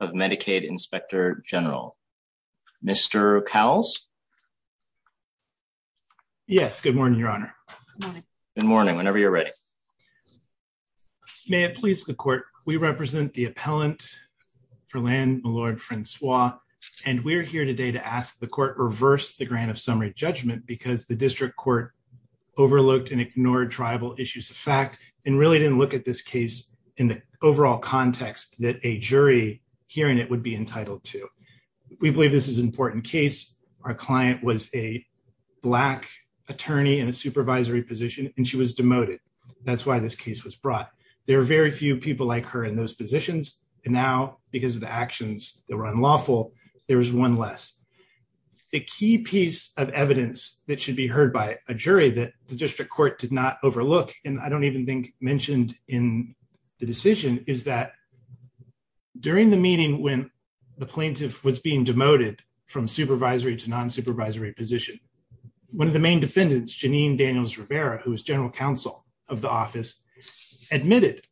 of Medicaid Inspector General, Mr. Cowles. Yes, good morning, Your Honor. Good morning, whenever you're ready. May it please the Court, we represent the appellant for Land-Milord-Francois, and we're here today to ask the Court for a summary judgment because the district court overlooked and ignored tribal issues of fact, and really didn't look at this case in the overall context that a jury hearing it would be entitled to. We believe this is an important case. Our client was a black attorney in a supervisory position, and she was demoted. That's why this case was brought. There are very few people like her in those positions, and now, because of the actions that were unlawful, there is one less. The key piece of evidence that should be heard by a jury that the district court did not overlook, and I don't even think mentioned in the decision, is that during the meeting when the plaintiff was being demoted from supervisory to non-supervisory position, one of the main defendants, Janine Daniels-Rivera, who was general counsel of the office, admitted,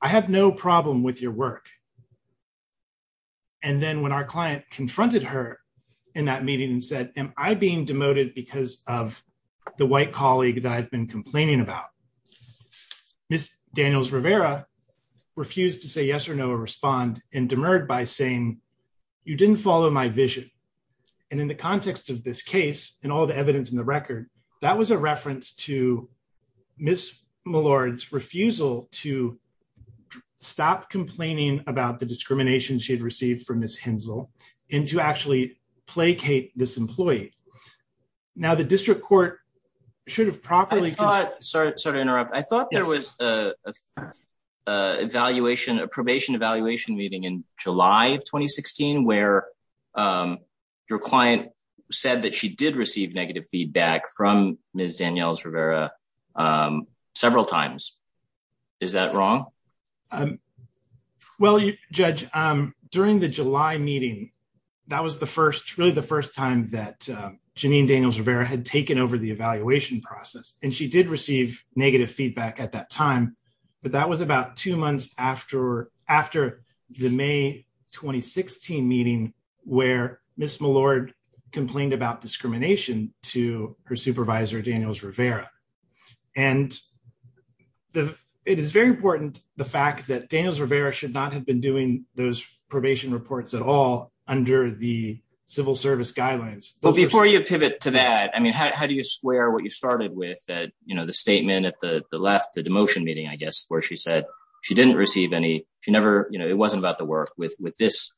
I have no problem with your work. And then when our client confronted her in that meeting and said, am I being demoted because of the white colleague that I've been complaining about, Ms. Daniels-Rivera refused to say yes or no or respond and demurred by saying, you didn't follow my vision. And in the context of this case, and all the evidence in the record, that was a reference to Ms. Millard's refusal to stop complaining about the discrimination she had received from Ms. Hensel and to actually placate this employee. Now the district court should have properly I thought there was a probation evaluation meeting in July of 2016 where your client said that she did receive negative feedback from Ms. Daniels-Rivera several times. Is that wrong? Judge, during the July meeting, that was the first time that Janine Daniels-Rivera had taken over the evaluation process. And she did receive negative feedback at that time. But that was about two months after the May 2016 meeting where Ms. Millard complained about discrimination to her supervisor Daniels-Rivera. And it is very important, the fact that Daniels-Rivera should not have been doing those probation reports at all under the civil service guidelines. But before you pivot to that, I mean, how do you square what you started with that, you know, the statement at the last the demotion meeting, I guess, where she said she didn't receive any she never, you know, it wasn't about the work with this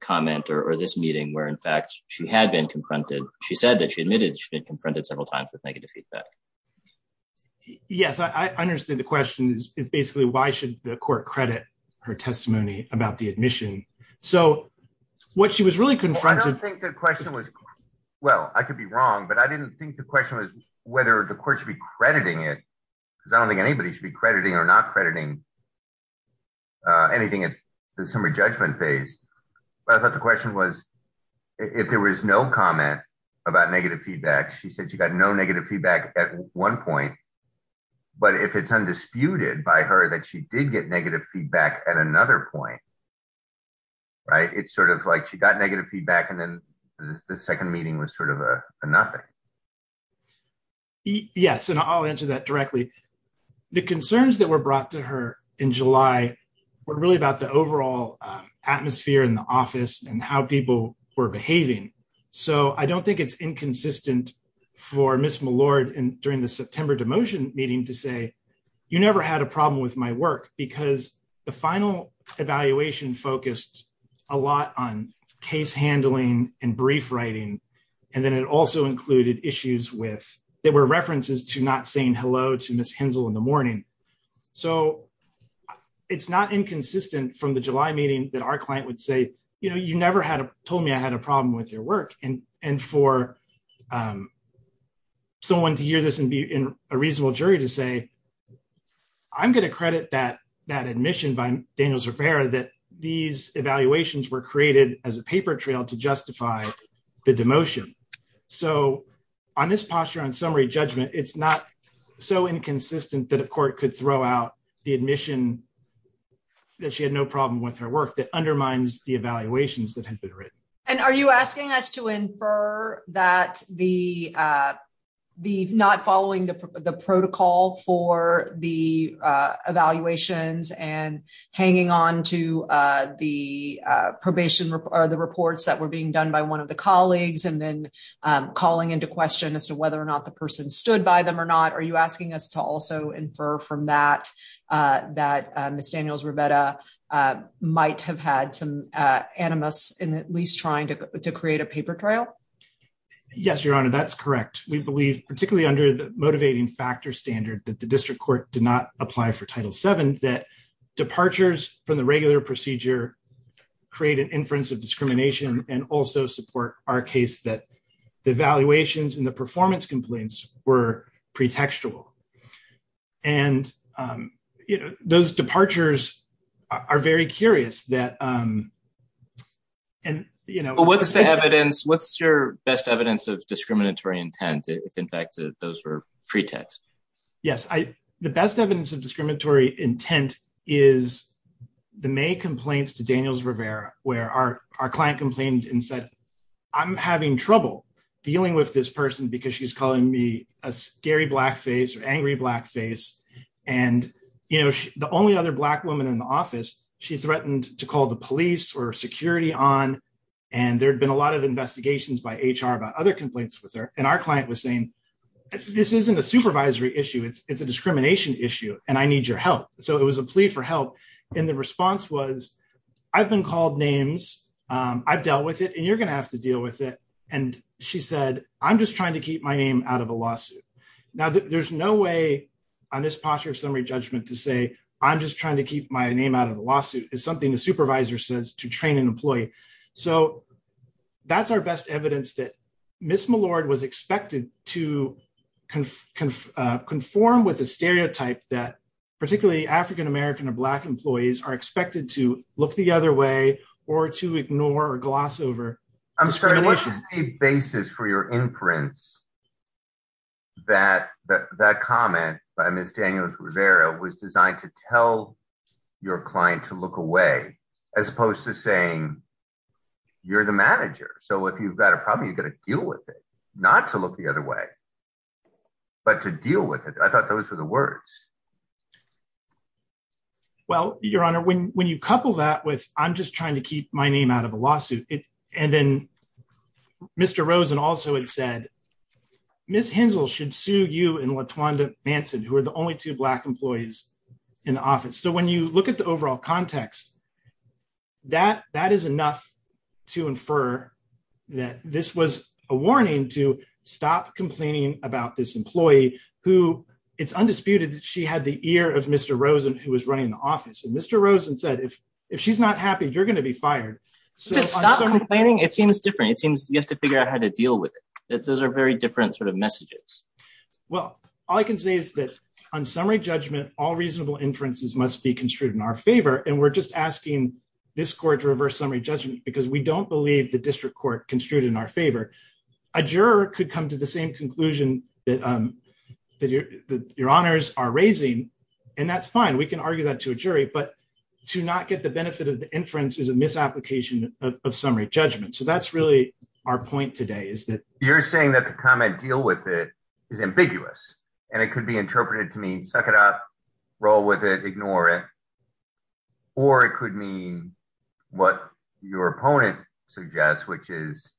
comment or this meeting where in fact she had been confronted. She said that she admitted she had been confronted several times with negative feedback. Yes, I understood the question is basically why should the court credit her testimony about the admission? So what she was really confronted I don't think the question was, well, I could be wrong, but I didn't think the question was whether the court should be crediting it, because I don't think anybody should be crediting or not crediting anything at the summary judgment phase. But I thought the question was if there was no comment about negative feedback, she said she got no negative feedback at one point, but if it's undisputed by her that she did get negative feedback at another point right, it's sort of like she got negative feedback and then the second meeting was sort of a nothing. Yes, and I'll answer that directly. The concerns that were brought to her in July were really about the overall atmosphere in the office and how people were behaving. So I don't think it's inconsistent for Ms. Millard during the September demotion meeting to say you never had a problem with my work, because the final evaluation focused a lot on case handling and brief writing, and then it also included issues with there were references to not saying hello to Ms. Hensel in the morning. So it's not inconsistent from the July meeting that our client would say you never told me I had a problem with your work and for someone to hear this and be in a reasonable jury to say I'm going to credit that admission by Daniels Rivera that these evaluations were created as a paper trail to justify the demotion. So on this posture on summary judgment, it's not so inconsistent that a court could throw out the admission that she had no problem with her work that undermines the evaluations that had been written. And are you asking us to infer that the not following the protocol for the evaluations and hanging on to the reports that were being done by one of the colleagues and then calling into question as to whether or not the person stood by them or not? Are you asking us to also infer from that that Ms. Daniels Rivera might have had some animus in at least trying to create a paper trail? Yes, Your Honor, that's correct. We believe particularly under the motivating factor standard that the district court did not apply for Title VII that departures from the regular procedure create an inference of discrimination and also support our case that the evaluations and the performance complaints were pretextual. And those departures are very curious. What's your best evidence of discriminatory intent if in fact those were pretext? The best evidence of discriminatory intent is the May complaints to Daniels Rivera where our client complained and said I'm having trouble dealing with this person because she's calling me a scary blackface or angry blackface. The only other black woman in the office she threatened to call the police or security on and there had been a lot of investigations by HR about other complaints with her and our client was saying this isn't a supervisory issue, it's a discrimination issue and I need your help. It was a plea for help and the response was I've been called names, I've dealt with it and you're going to have to deal with it. And she said I'm just trying to keep my name out of a lawsuit. There's no way on this posture of summary judgment to say I'm just trying to keep my name out of a lawsuit. It's something a supervisor says to train an employee. So that's our best evidence that Ms. Millard was expected to conform with a stereotype that particularly African American or black employees are expected to look the other way or to ignore or gloss over. I'm sorry, what's the basis for your imprints that comment by Ms. Daniels Rivera was designed to tell your client to look away as opposed to saying you're the manager. So if you've got a problem, you've got to deal with it, not to look the other way, but to deal with it. I thought those were the words. Well, Your Honor, when you couple that with I'm just and then Mr. Rosen also had said Ms. Hensel should sue you and Latwanda Manson, who are the only two black employees in the office. So when you look at the overall context, that is enough to infer that this was a warning to stop complaining about this employee who it's undisputed that she had the ear of Mr. Rosen, who was running the office. And Mr. Rosen said if she's not happy, you're going to be fired. Stop complaining. It seems different. It seems you have to figure out how to deal with it. Those are very different sort of messages. Well, all I can say is that on summary judgment, all reasonable inferences must be construed in our favor. And we're just asking this court to reverse summary judgment because we don't believe the district court construed in our favor. A juror could come to the same conclusion that your honors are raising, and that's fine. We can argue that to a jury, but to not get the benefit of the inference is a misapplication of summary judgment. So that's really our point today is that you're saying that the comment deal with it is ambiguous, and it could be interpreted to mean suck it up, roll with it, ignore it. Or it could mean what your opponent suggests, which is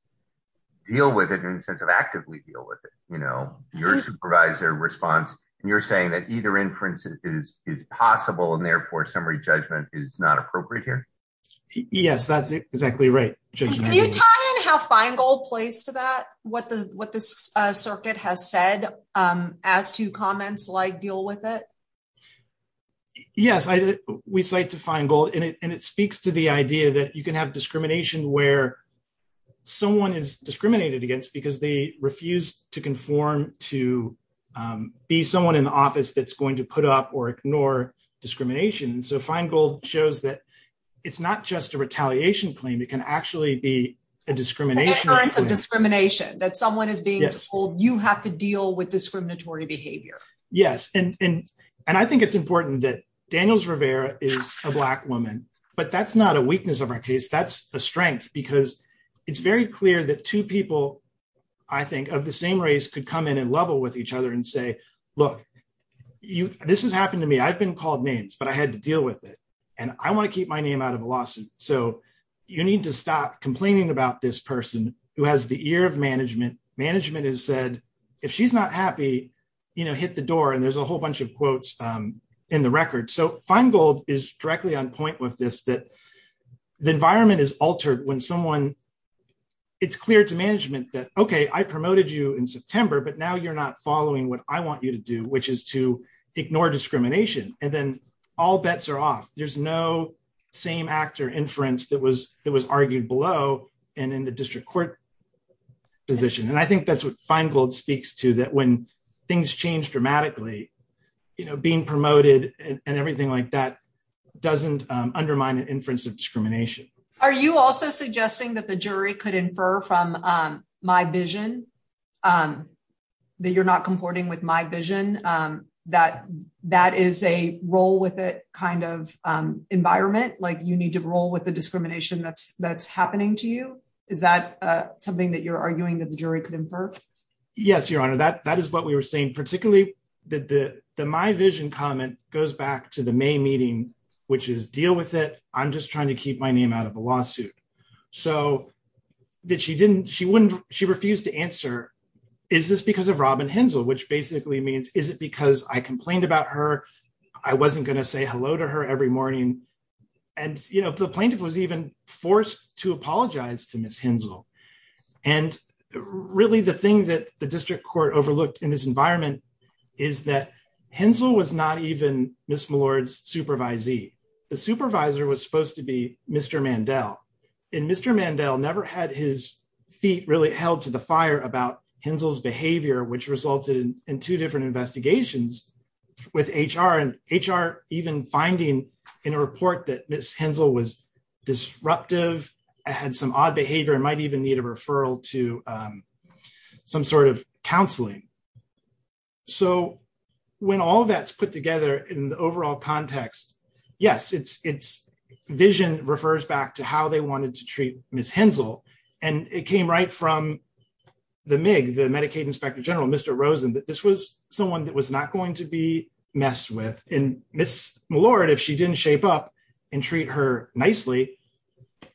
deal with it in the sense of actively deal with it. You know, your supervisor responds, and you're saying that either inference is possible and therefore summary judgment is not appropriate here. Yes, that's exactly right. Can you tie in how Feingold plays to that, what this circuit has said as to comments like deal with it? Yes. We cite to Feingold, and it speaks to the idea that you can have discrimination where someone is discriminated against because they refuse to conform to be someone in the office that's going to put up or ignore discrimination. So Feingold shows that it's not just a retaliation claim. It can actually be a discrimination. An inference of discrimination, that someone is being told you have to deal with discriminatory behavior. Yes, and I think it's important that Daniels-Rivera is a Black woman, but that's not a weakness of our case. That's a strength because it's very clear that two people, I think, of the same race could come in and level with each other and say, look, this has happened to me. I've been called names, but I had to deal with it, and I want to keep my name out of a lawsuit, so you need to stop complaining about this person who has the ear of management. Management has said, if she's not happy, hit the door, and there's a whole bunch of quotes in the record. So Feingold is directly on point with this, that the environment is altered when someone, it's clear to management that, okay, I promoted you in September, but now you're not following what I want you to do, which is to ignore discrimination, and then all bets are off. There's no same actor inference that was argued below and in the district court position, and I think that's what Feingold speaks to, that when things change dramatically, being promoted and everything like that doesn't undermine an inference of discrimination. Are you also suggesting that the jury could infer from my vision, that you're not comporting with my vision, that that is a roll with it kind of environment, like you need to roll with the discrimination that's happening to you? Is that something that you're arguing that the jury could infer? Yes, Your Honor, that is what we were saying, particularly that the my vision comment goes back to the May meeting, which is deal with it, I'm just trying to keep my name out of a lawsuit. She refused to answer, is this because of Robin Hensel, which basically means, is it because I complained about her, I wasn't going to say hello to her every morning, and the plaintiff was even forced to apologize to Ms. Hensel, and really the thing that the district court overlooked in this environment is that Hensel was not even Ms. Millard's supervisee. The supervisor was supposed to be Mr. Mandel, and Mr. Mandel never had his feet really held to the fire about Hensel's behavior, which resulted in two different investigations with HR, and HR even finding in a report that Ms. Hensel was disruptive, had some odd behavior, and might even need a referral to some sort of counseling. So when all that's put together in the overall context, yes, it's vision refers back to how they wanted to treat Ms. Hensel, and it came right from the MIG, the Medicaid Inspector General, Mr. Rosen, that this was someone that was not going to be messed with, and Ms. Millard, if she didn't shape up and treat her nicely,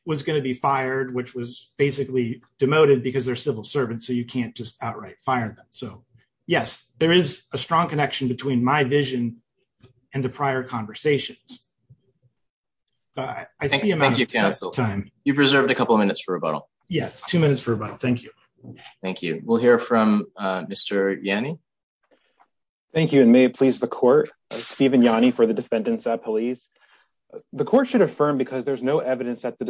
was going to be fired, which was basically demoted because they're civil servants, so you can't just outright fire them. So yes, there is a strong connection between my vision and the prior conversations. Thank you, counsel. You've reserved a couple minutes for rebuttal. Yes, two minutes for rebuttal, thank you. Thank you. We'll hear from Mr. Yanni. Thank you, and may it please the court, Stephen Yanni for the defendants at police. The court should affirm because there's no evidence that the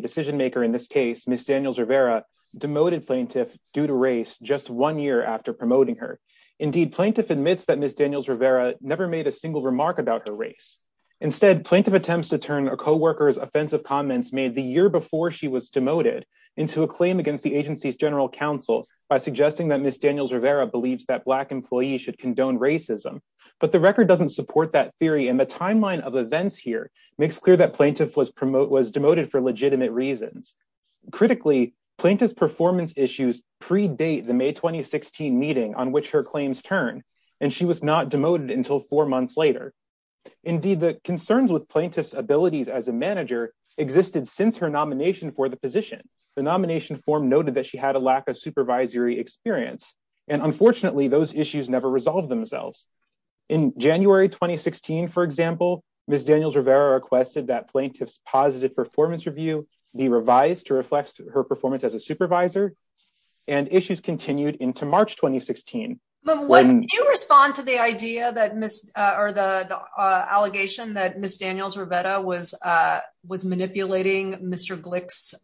decision maker in this case, Ms. Daniels Rivera, demoted plaintiff due to race just one year after promoting her. Indeed plaintiff admits that Ms. Daniels Rivera never made a single remark about her race. Instead, plaintiff attempts to turn a coworker's offensive comments made the year before she was demoted into a claim against the agency's general counsel by suggesting that Ms. Daniels Rivera believes that Black employees should condone racism. But the record doesn't support that theory, and the timeline of events here makes clear that plaintiff was demoted for legitimate reasons. Critically, plaintiff's performance issues predate the May 2016 meeting on which her claims turn, and she was not demoted until four months later. Indeed, the concerns with plaintiff's abilities as a manager existed since her nomination for the position. The nomination form noted that she had a lack of supervisory experience, and unfortunately those issues never resolved themselves. In January 2016, for example, Ms. Daniels Rivera requested that plaintiff's positive performance review be revised to reflect her performance as a supervisor, and issues continued into March 2016. When you respond to the idea that Ms., or the allegation that Ms. Daniels Rivera was manipulating Mr. Glick's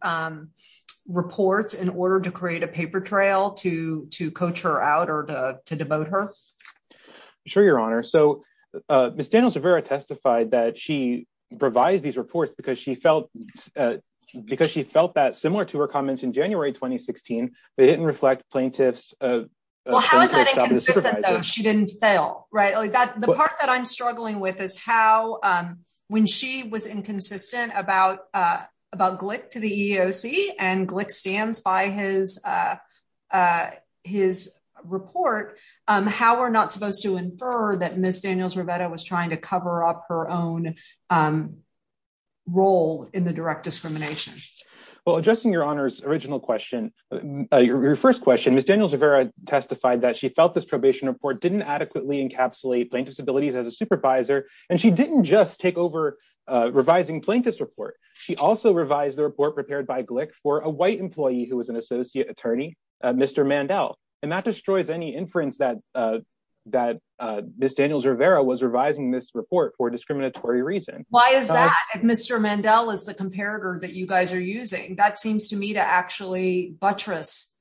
reports in order to create a paper trail to coach her out or to devote her? Sure, Your Honor. So, Ms. Daniels Rivera testified that she revised these reports because she felt that, similar to her comments in January 2016, they didn't reflect plaintiff's... Well, how is that inconsistent, though? She didn't fail, right? The part that I'm struggling with is how when she was inconsistent about Glick to the EEOC, and Glick stands by his report, how we're not supposed to infer that Ms. Daniels Rivera was trying to cover up her own role in the direct discrimination. Well, addressing Your Honor's original question, your first question, Ms. Daniels Rivera testified that she felt this probation report didn't adequately encapsulate plaintiff's abilities as a supervisor, and she didn't just take over revising plaintiff's report. She also revised the report prepared by Glick for a white employee who was an associate attorney, Mr. Mandel, and that destroys any inference that Ms. Daniels Rivera was revising this report for a discriminatory reason. Why is that, if Mr. Mandel is the comparator that you guys are using? That seems to me to actually buttress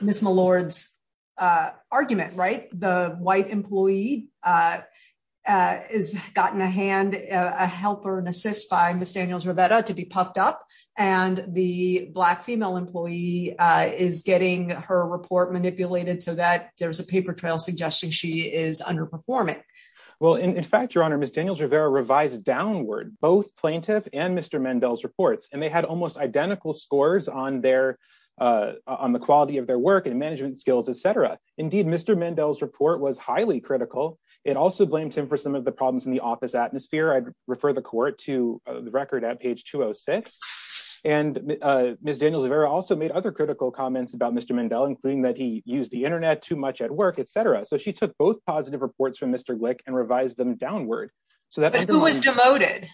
Ms. Millard's argument, right? The white employee has gotten a hand, a help or an assist by Ms. Daniels Rivera to be puffed up, and the black female employee is getting her report manipulated so that there's a paper trail suggesting she is underperforming. Well, in fact, Your Honor, Ms. Daniels Rivera revised downward both plaintiff and Mr. Mandel's reports, and they had almost identical scores on the quality of their work and management skills, etc. Indeed, Mr. Mandel's report was highly critical. It also blamed him for some of the problems in the office atmosphere. I'd refer the court to the record at page 206, and Ms. Daniels Rivera also made other critical comments about Mr. Mandel, including that he used the Internet too much at work, etc. So she took both positive reports from Mr. Glick and revised them downward. But who was demoted?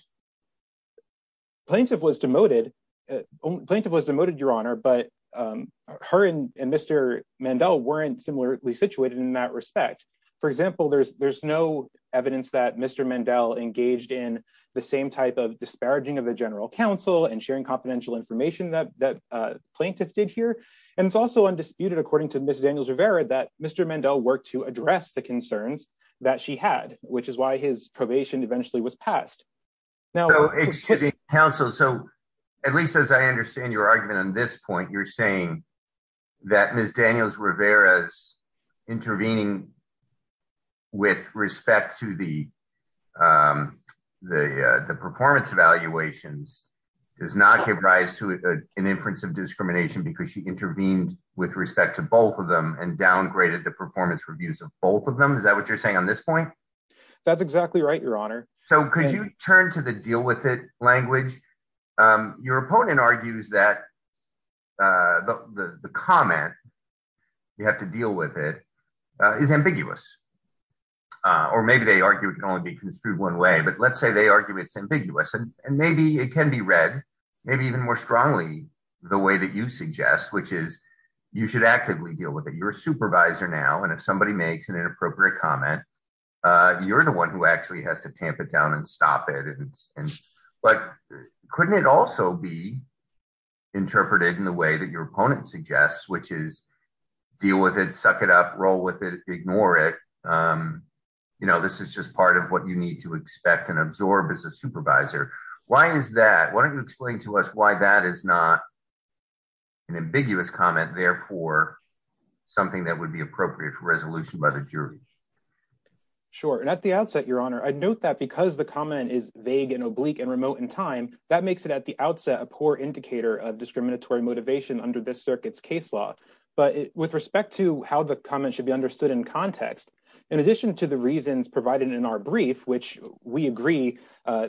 Plaintiff was demoted, Your Honor, but her and Mr. Mandel weren't similarly situated in that respect. For example, there's no evidence that Mr. Mandel engaged in the same type of disparaging of the general counsel and sharing confidential information that plaintiff did here, and it's also undisputed according to Ms. Daniels Rivera that Mr. Mandel worked to address the concerns that she had, which is why his probation eventually was passed. So, excuse me, counsel, so at least as I understand your argument on this point, you're saying that Ms. Daniels Rivera's intervening with respect to the performance evaluations does not give rise to an inference of discrimination because she intervened with respect to both of them and downgraded the performance reviews of both of them? Is that what you're saying on this point? That's exactly right, Your Honor. So could you turn to the deal with it language? Your opponent argues that the comment, you have to deal with it, is ambiguous. Or maybe they argue it can only be construed one way, but let's say they argue it's ambiguous, and maybe it can be read maybe even more in the way that you suggest, which is you should actively deal with it. You're a supervisor now, and if somebody makes an inappropriate comment, you're the one who actually has to tamp it down and stop it. But couldn't it also be interpreted in the way that your opponent suggests, which is deal with it, suck it up, roll with it, ignore it? This is just part of what you need to expect and absorb as a supervisor. Why is that? Why don't you explain to us why that is not an ambiguous comment, therefore something that would be appropriate for resolution by the jury? Sure. And at the outset, Your Honor, I note that because the comment is vague and oblique and remote in time, that makes it at the outset a poor indicator of discriminatory motivation under this circuit's case law. But with respect to how the comment should be understood in context, in addition to the reasons provided in our brief, which we agree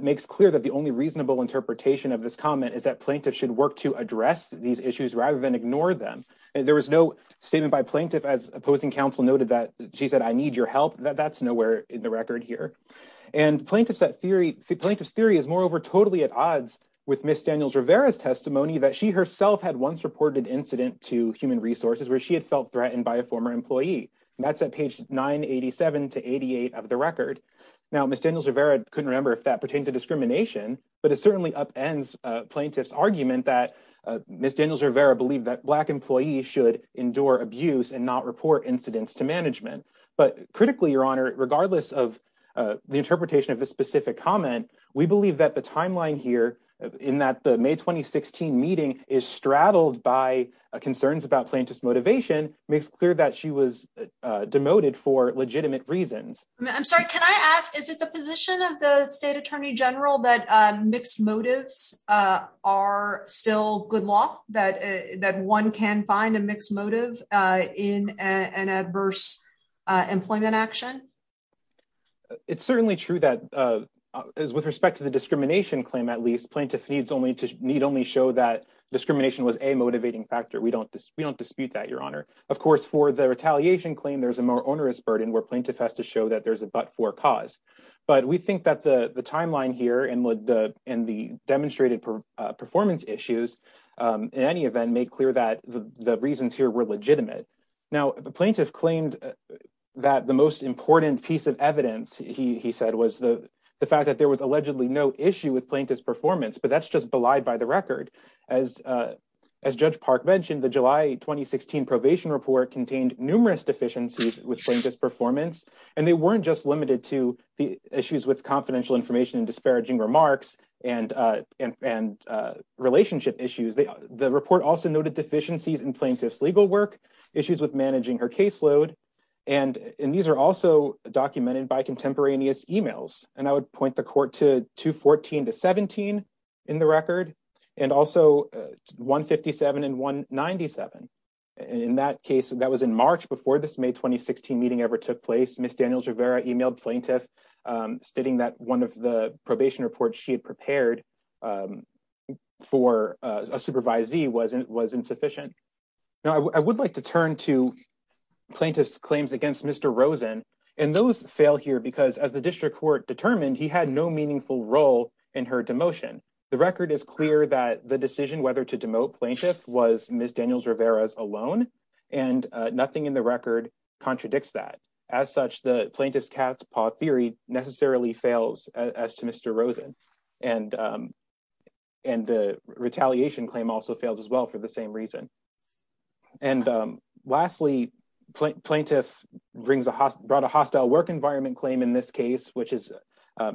makes clear that the only reasonable interpretation of this comment is that plaintiffs should work to address these issues rather than ignore them. There was no statement by plaintiff as opposing counsel noted that she said, I need your help. That's nowhere in the record here. And plaintiff's theory is moreover totally at odds with Ms. Daniels-Rivera's testimony that she herself had once reported incident to Human Resources where she had felt threatened by a former employee. That's at page 987 to 88 of the record. Now, Ms. Daniels-Rivera couldn't remember if that pertained to discrimination, but it certainly upends plaintiff's argument that Ms. Daniels-Rivera believed that Black employees should endure abuse and not report incidents to management. But critically, Your Honor, regardless of the interpretation of this specific comment, we believe that the timeline here in that the May 2016 meeting is straddled by concerns about plaintiff's motivation makes clear that she was demoted for legitimate reasons. I'm sorry, can I ask, is it the position of the State Attorney General that mixed motives are still good law, that one can find a mixed motive in an adverse employment action? It's certainly true that, with respect to the discrimination claim at least, plaintiff needs only show that discrimination was a motivating factor. We don't dispute that, Your Honor. Of course, for the retaliation claim, there's a more onerous burden where plaintiff has to show that there's a but-for cause. But we think that the timeline here and the demonstrated performance issues, in any event, make clear that the reasons here were legitimate. Now, the plaintiff claimed that the most important piece of evidence, he said, was the fact that there was allegedly no issue with plaintiff's performance, but that's just belied by the record. As Judge Park mentioned, the July 2016 probation report contained numerous deficiencies with plaintiff's performance, and they weren't just limited to the issues with confidential information and disparaging remarks and relationship issues. The report also noted deficiencies in plaintiff's legal work, issues with managing her caseload, and these are also documented by contemporaneous emails, and I would point the court to 214 to 17 in the record, and also 157 and 197. In that case, that was in March. Before this May 2016 meeting ever took place, Ms. Daniels-Rivera emailed plaintiff stating that one of the probation reports she had prepared for a supervisee was insufficient. Now, I would like to turn to plaintiff's claims against Mr. Rosen, and those fail here because, as the district court determined, he had no meaningful role in her demotion. The record is clear that the decision whether to demote plaintiff was Ms. Daniels-Rivera's alone, and nothing in the record contradicts that. As such, the plaintiff's cat's paw theory necessarily fails as to Mr. Rosen, and the retaliation claim also fails as well for the same reason. And lastly, plaintiff brought a hostile work environment claim in this case, which was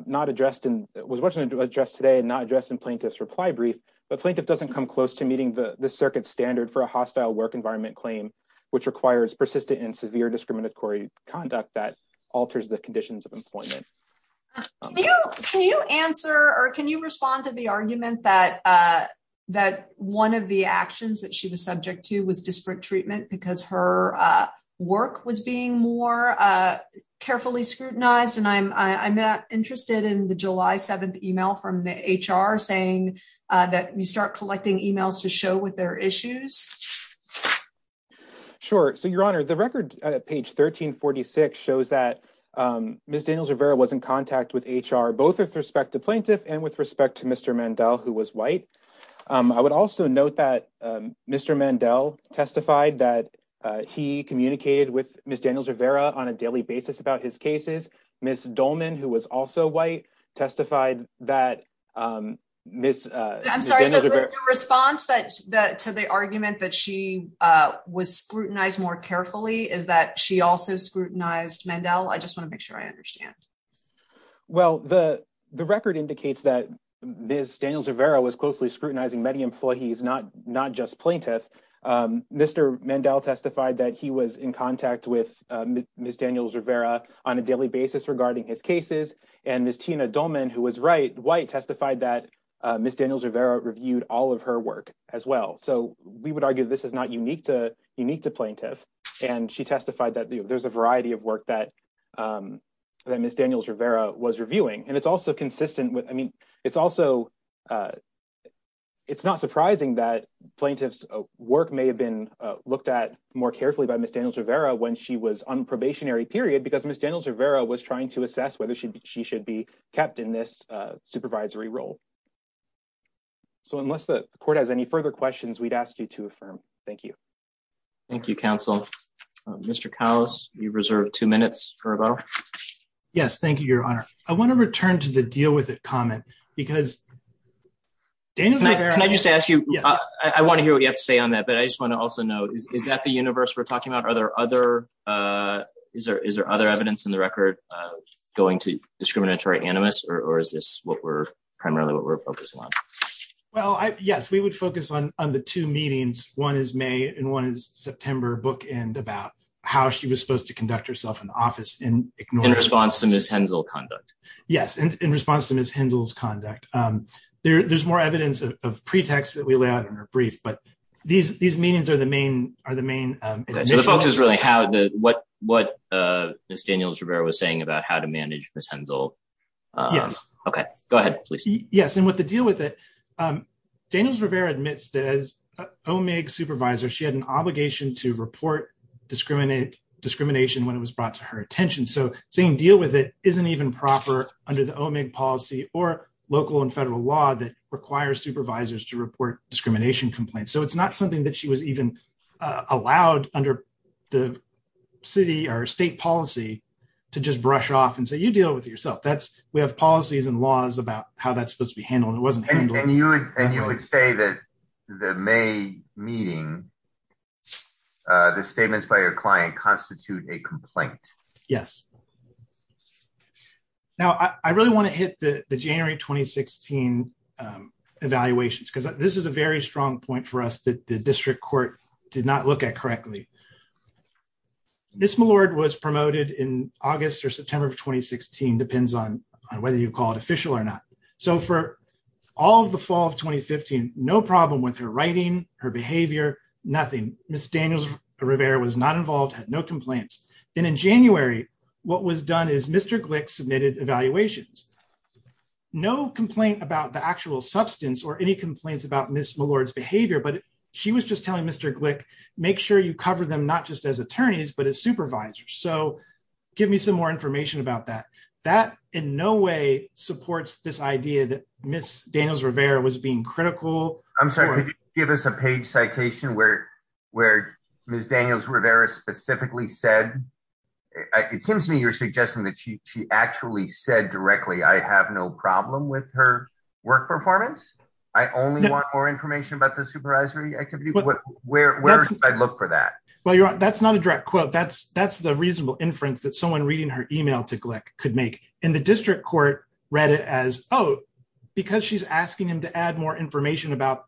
much addressed today and not addressed in plaintiff's reply brief, but plaintiff doesn't come close to meeting this circuit's standard for a hostile work environment claim, which requires persistent and severe discriminatory conduct that alters the conditions of employment. Can you answer or can you respond to the argument that one of the actions that she was subject to was disparate treatment because her work was being more carefully scrutinized? And I'm interested in the July 7th email from the HR saying that you start collecting emails to show with their issues. Sure. So, Your Honor, the record, page 1346, shows that Ms. Daniels-Rivera was in contact with HR, both with respect to plaintiff and with respect to Mr. Mandel, who was white. I would also note that Mr. Mandel testified that he communicated with Ms. Daniels-Rivera on a daily basis about his cases. Ms. Dolman, who was also white, testified that Ms. Daniels-Rivera. I'm sorry, so the response to the argument that she was scrutinized more carefully is that she also scrutinized Mandel? I just want to make sure I understand. Well, the record indicates that Ms. Daniels-Rivera was closely scrutinizing many employees, not just plaintiff. Mr. Mandel testified that he was in contact with Ms. Daniels-Rivera on a daily basis regarding his cases. And Ms. Tina Dolman, who was white, testified that Ms. Daniels-Rivera reviewed all of her work as well. So we would argue this is not unique to plaintiff. And she testified that there's a variety of work that Ms. Daniels-Rivera was reviewing. And it's also consistent with, I mean, it's also it's not surprising that plaintiff's work may have been looked at more carefully by Ms. Daniels-Rivera when she was on probationary period because Ms. Daniels-Rivera was trying to assess whether she should be kept in this supervisory role. So unless the court has any further questions, we'd ask you to affirm. Thank you. Thank you, counsel. Mr. Cowles, you reserve two minutes for rebuttal. Yes, thank you, Your Honor. I want to return to the deal with it comment because Daniels-Rivera can I just ask you, I want to hear what you have to say on that, but I just want to also know, is that the universe we're talking about? Are there other, is there other evidence in the record going to discriminatory animus or is this what we're primarily what we're focusing on? Well, yes, we would focus on the two meetings. One is May and one is September bookend about how she was supposed to conduct herself in the office in response to Ms. Hensel conduct. Yes, in response to Ms. Hensel's conduct. There's more evidence of pretext that we lay out in her brief, but these meetings are the main. So the focus is really how what Ms. Daniels-Rivera was saying about how to manage Ms. Hensel. Yes. Okay, go ahead, please. Yes, and with the deal with it Daniels-Rivera admits that as OMIG supervisor she had an obligation to report discrimination when it was brought to her attention. So saying deal with it isn't even proper under the OMIG policy or local and federal law that requires supervisors to report discrimination complaints. So it's not something that she was even allowed under the city or state policy to just brush off and say you deal with it yourself. We have policies and laws about how that's supposed to be handled. And you would say that the May meeting, the statements by your client constitute a complaint. Yes. Now I really want to hit the January 2016 evaluations because this is a very strong point for us that the district court did not look at correctly. Ms. Millard was promoted in August or September of 2016 depends on whether you call it official or not. So for all of the fall of 2015, no problem with her writing, her behavior, nothing. Ms. Daniels-Rivera was not involved, had no complaints. And in January, what was done is Mr. Glick submitted evaluations. No complaint about the actual substance or any complaints about Ms. Millard's behavior, but she was just telling Mr. Glick make sure you cover them not just as attorneys, but as supervisors. So give me some more information about that. That in no way supports this idea that Ms. Daniels-Rivera was being critical. I'm sorry, could you give us a page citation where Ms. Daniels-Rivera specifically said, it seems to me you're suggesting that she actually said directly, I have no problem with her work performance. I only want more information about the supervisory activity. Where should I look for that? Well, you're right. That's not a direct quote. That's the reasonable inference that someone reading her email to Glick could make. And the district court read it as, oh, because she's asking him to add more information about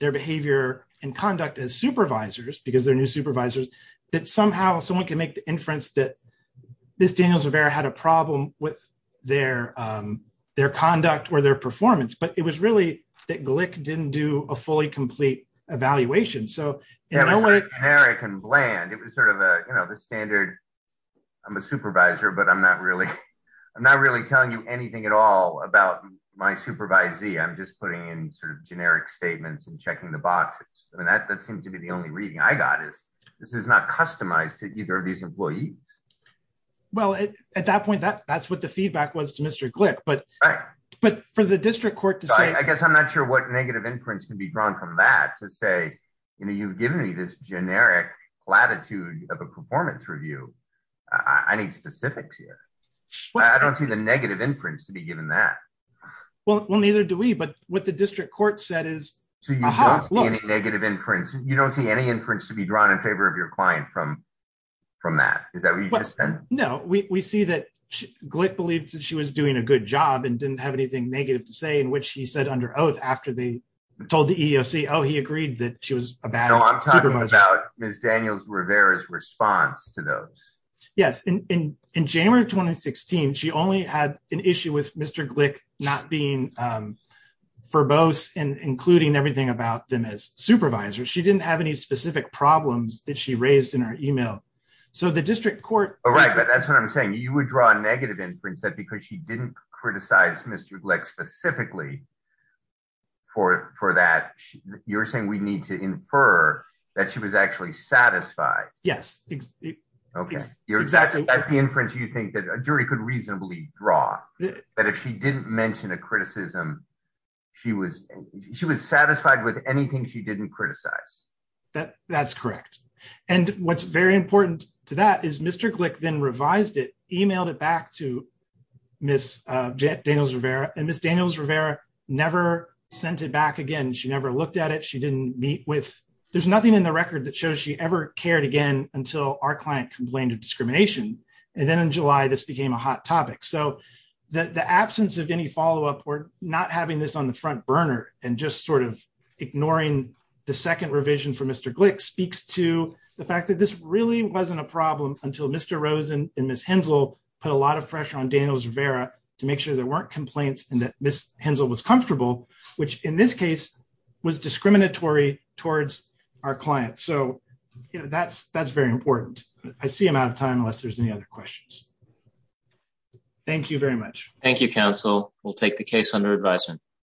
their behavior and conduct as supervisors because they're new supervisors, that somehow someone can make the inference that Ms. Daniels-Rivera had a problem with their conduct or their performance. But it was really that Glick didn't do a fully complete evaluation. It was generic and bland. It was sort of the standard, I'm a supervisor, but I'm not really telling you anything at all about my supervisee. I'm just putting in generic statements and checking the boxes. I mean, that seems to be the only reading I got is this is not customized to either of these employees. Well, at that point, that's what the feedback was to Mr. Glick. But for the district court to say I guess I'm not sure what negative inference can be drawn from that to say you've given me this generic latitude of a performance review. I need specifics here. I don't see the negative inference to be given that. Well, neither do we. But what the district court said is. So you don't see any negative inference. You don't see any inference to be drawn in favor of your client from that. Is that what you just said? No. We see that Glick believed that she was doing a good job and didn't have anything negative to say in which he said under oath after they told the EEOC oh, he agreed that she was a bad supervisor. No, I'm talking about Ms. Daniels-Rivera's response to those. Yes. In January 2016, she only had an issue with Mr. Glick not being verbose and including everything about them as supervisors. She didn't have any specific problems that she raised in her email. So the district court. Right. But that's what I'm saying. You would draw a negative inference that because she didn't criticize Mr. Glick specifically for that, you're saying we need to infer that she was actually satisfied. Yes. That's the inference you think that a jury could reasonably draw. But if she didn't mention a criticism, she was satisfied with anything she didn't criticize. That's correct. And what's very important to that is Mr. Glick then revised it, emailed it back to Ms. Daniels-Rivera and Ms. Daniels-Rivera never sent it back again. She never looked at it. She didn't meet with there's nothing in the record that shows she ever cared again until our client complained of discrimination. And then in July, this the absence of any follow up or not having this on the front burner and just sort of ignoring the second revision for Mr. Glick speaks to the fact that this really wasn't a problem until Mr. Rosen and Ms. Hensel put a lot of pressure on Daniels-Rivera to make sure there weren't complaints and that Ms. Hensel was comfortable, which in this case was discriminatory towards our client. So that's very important. I see I'm out of time unless there's any other questions. Thank you very much. Thank you, counsel. We'll take the case under advisement.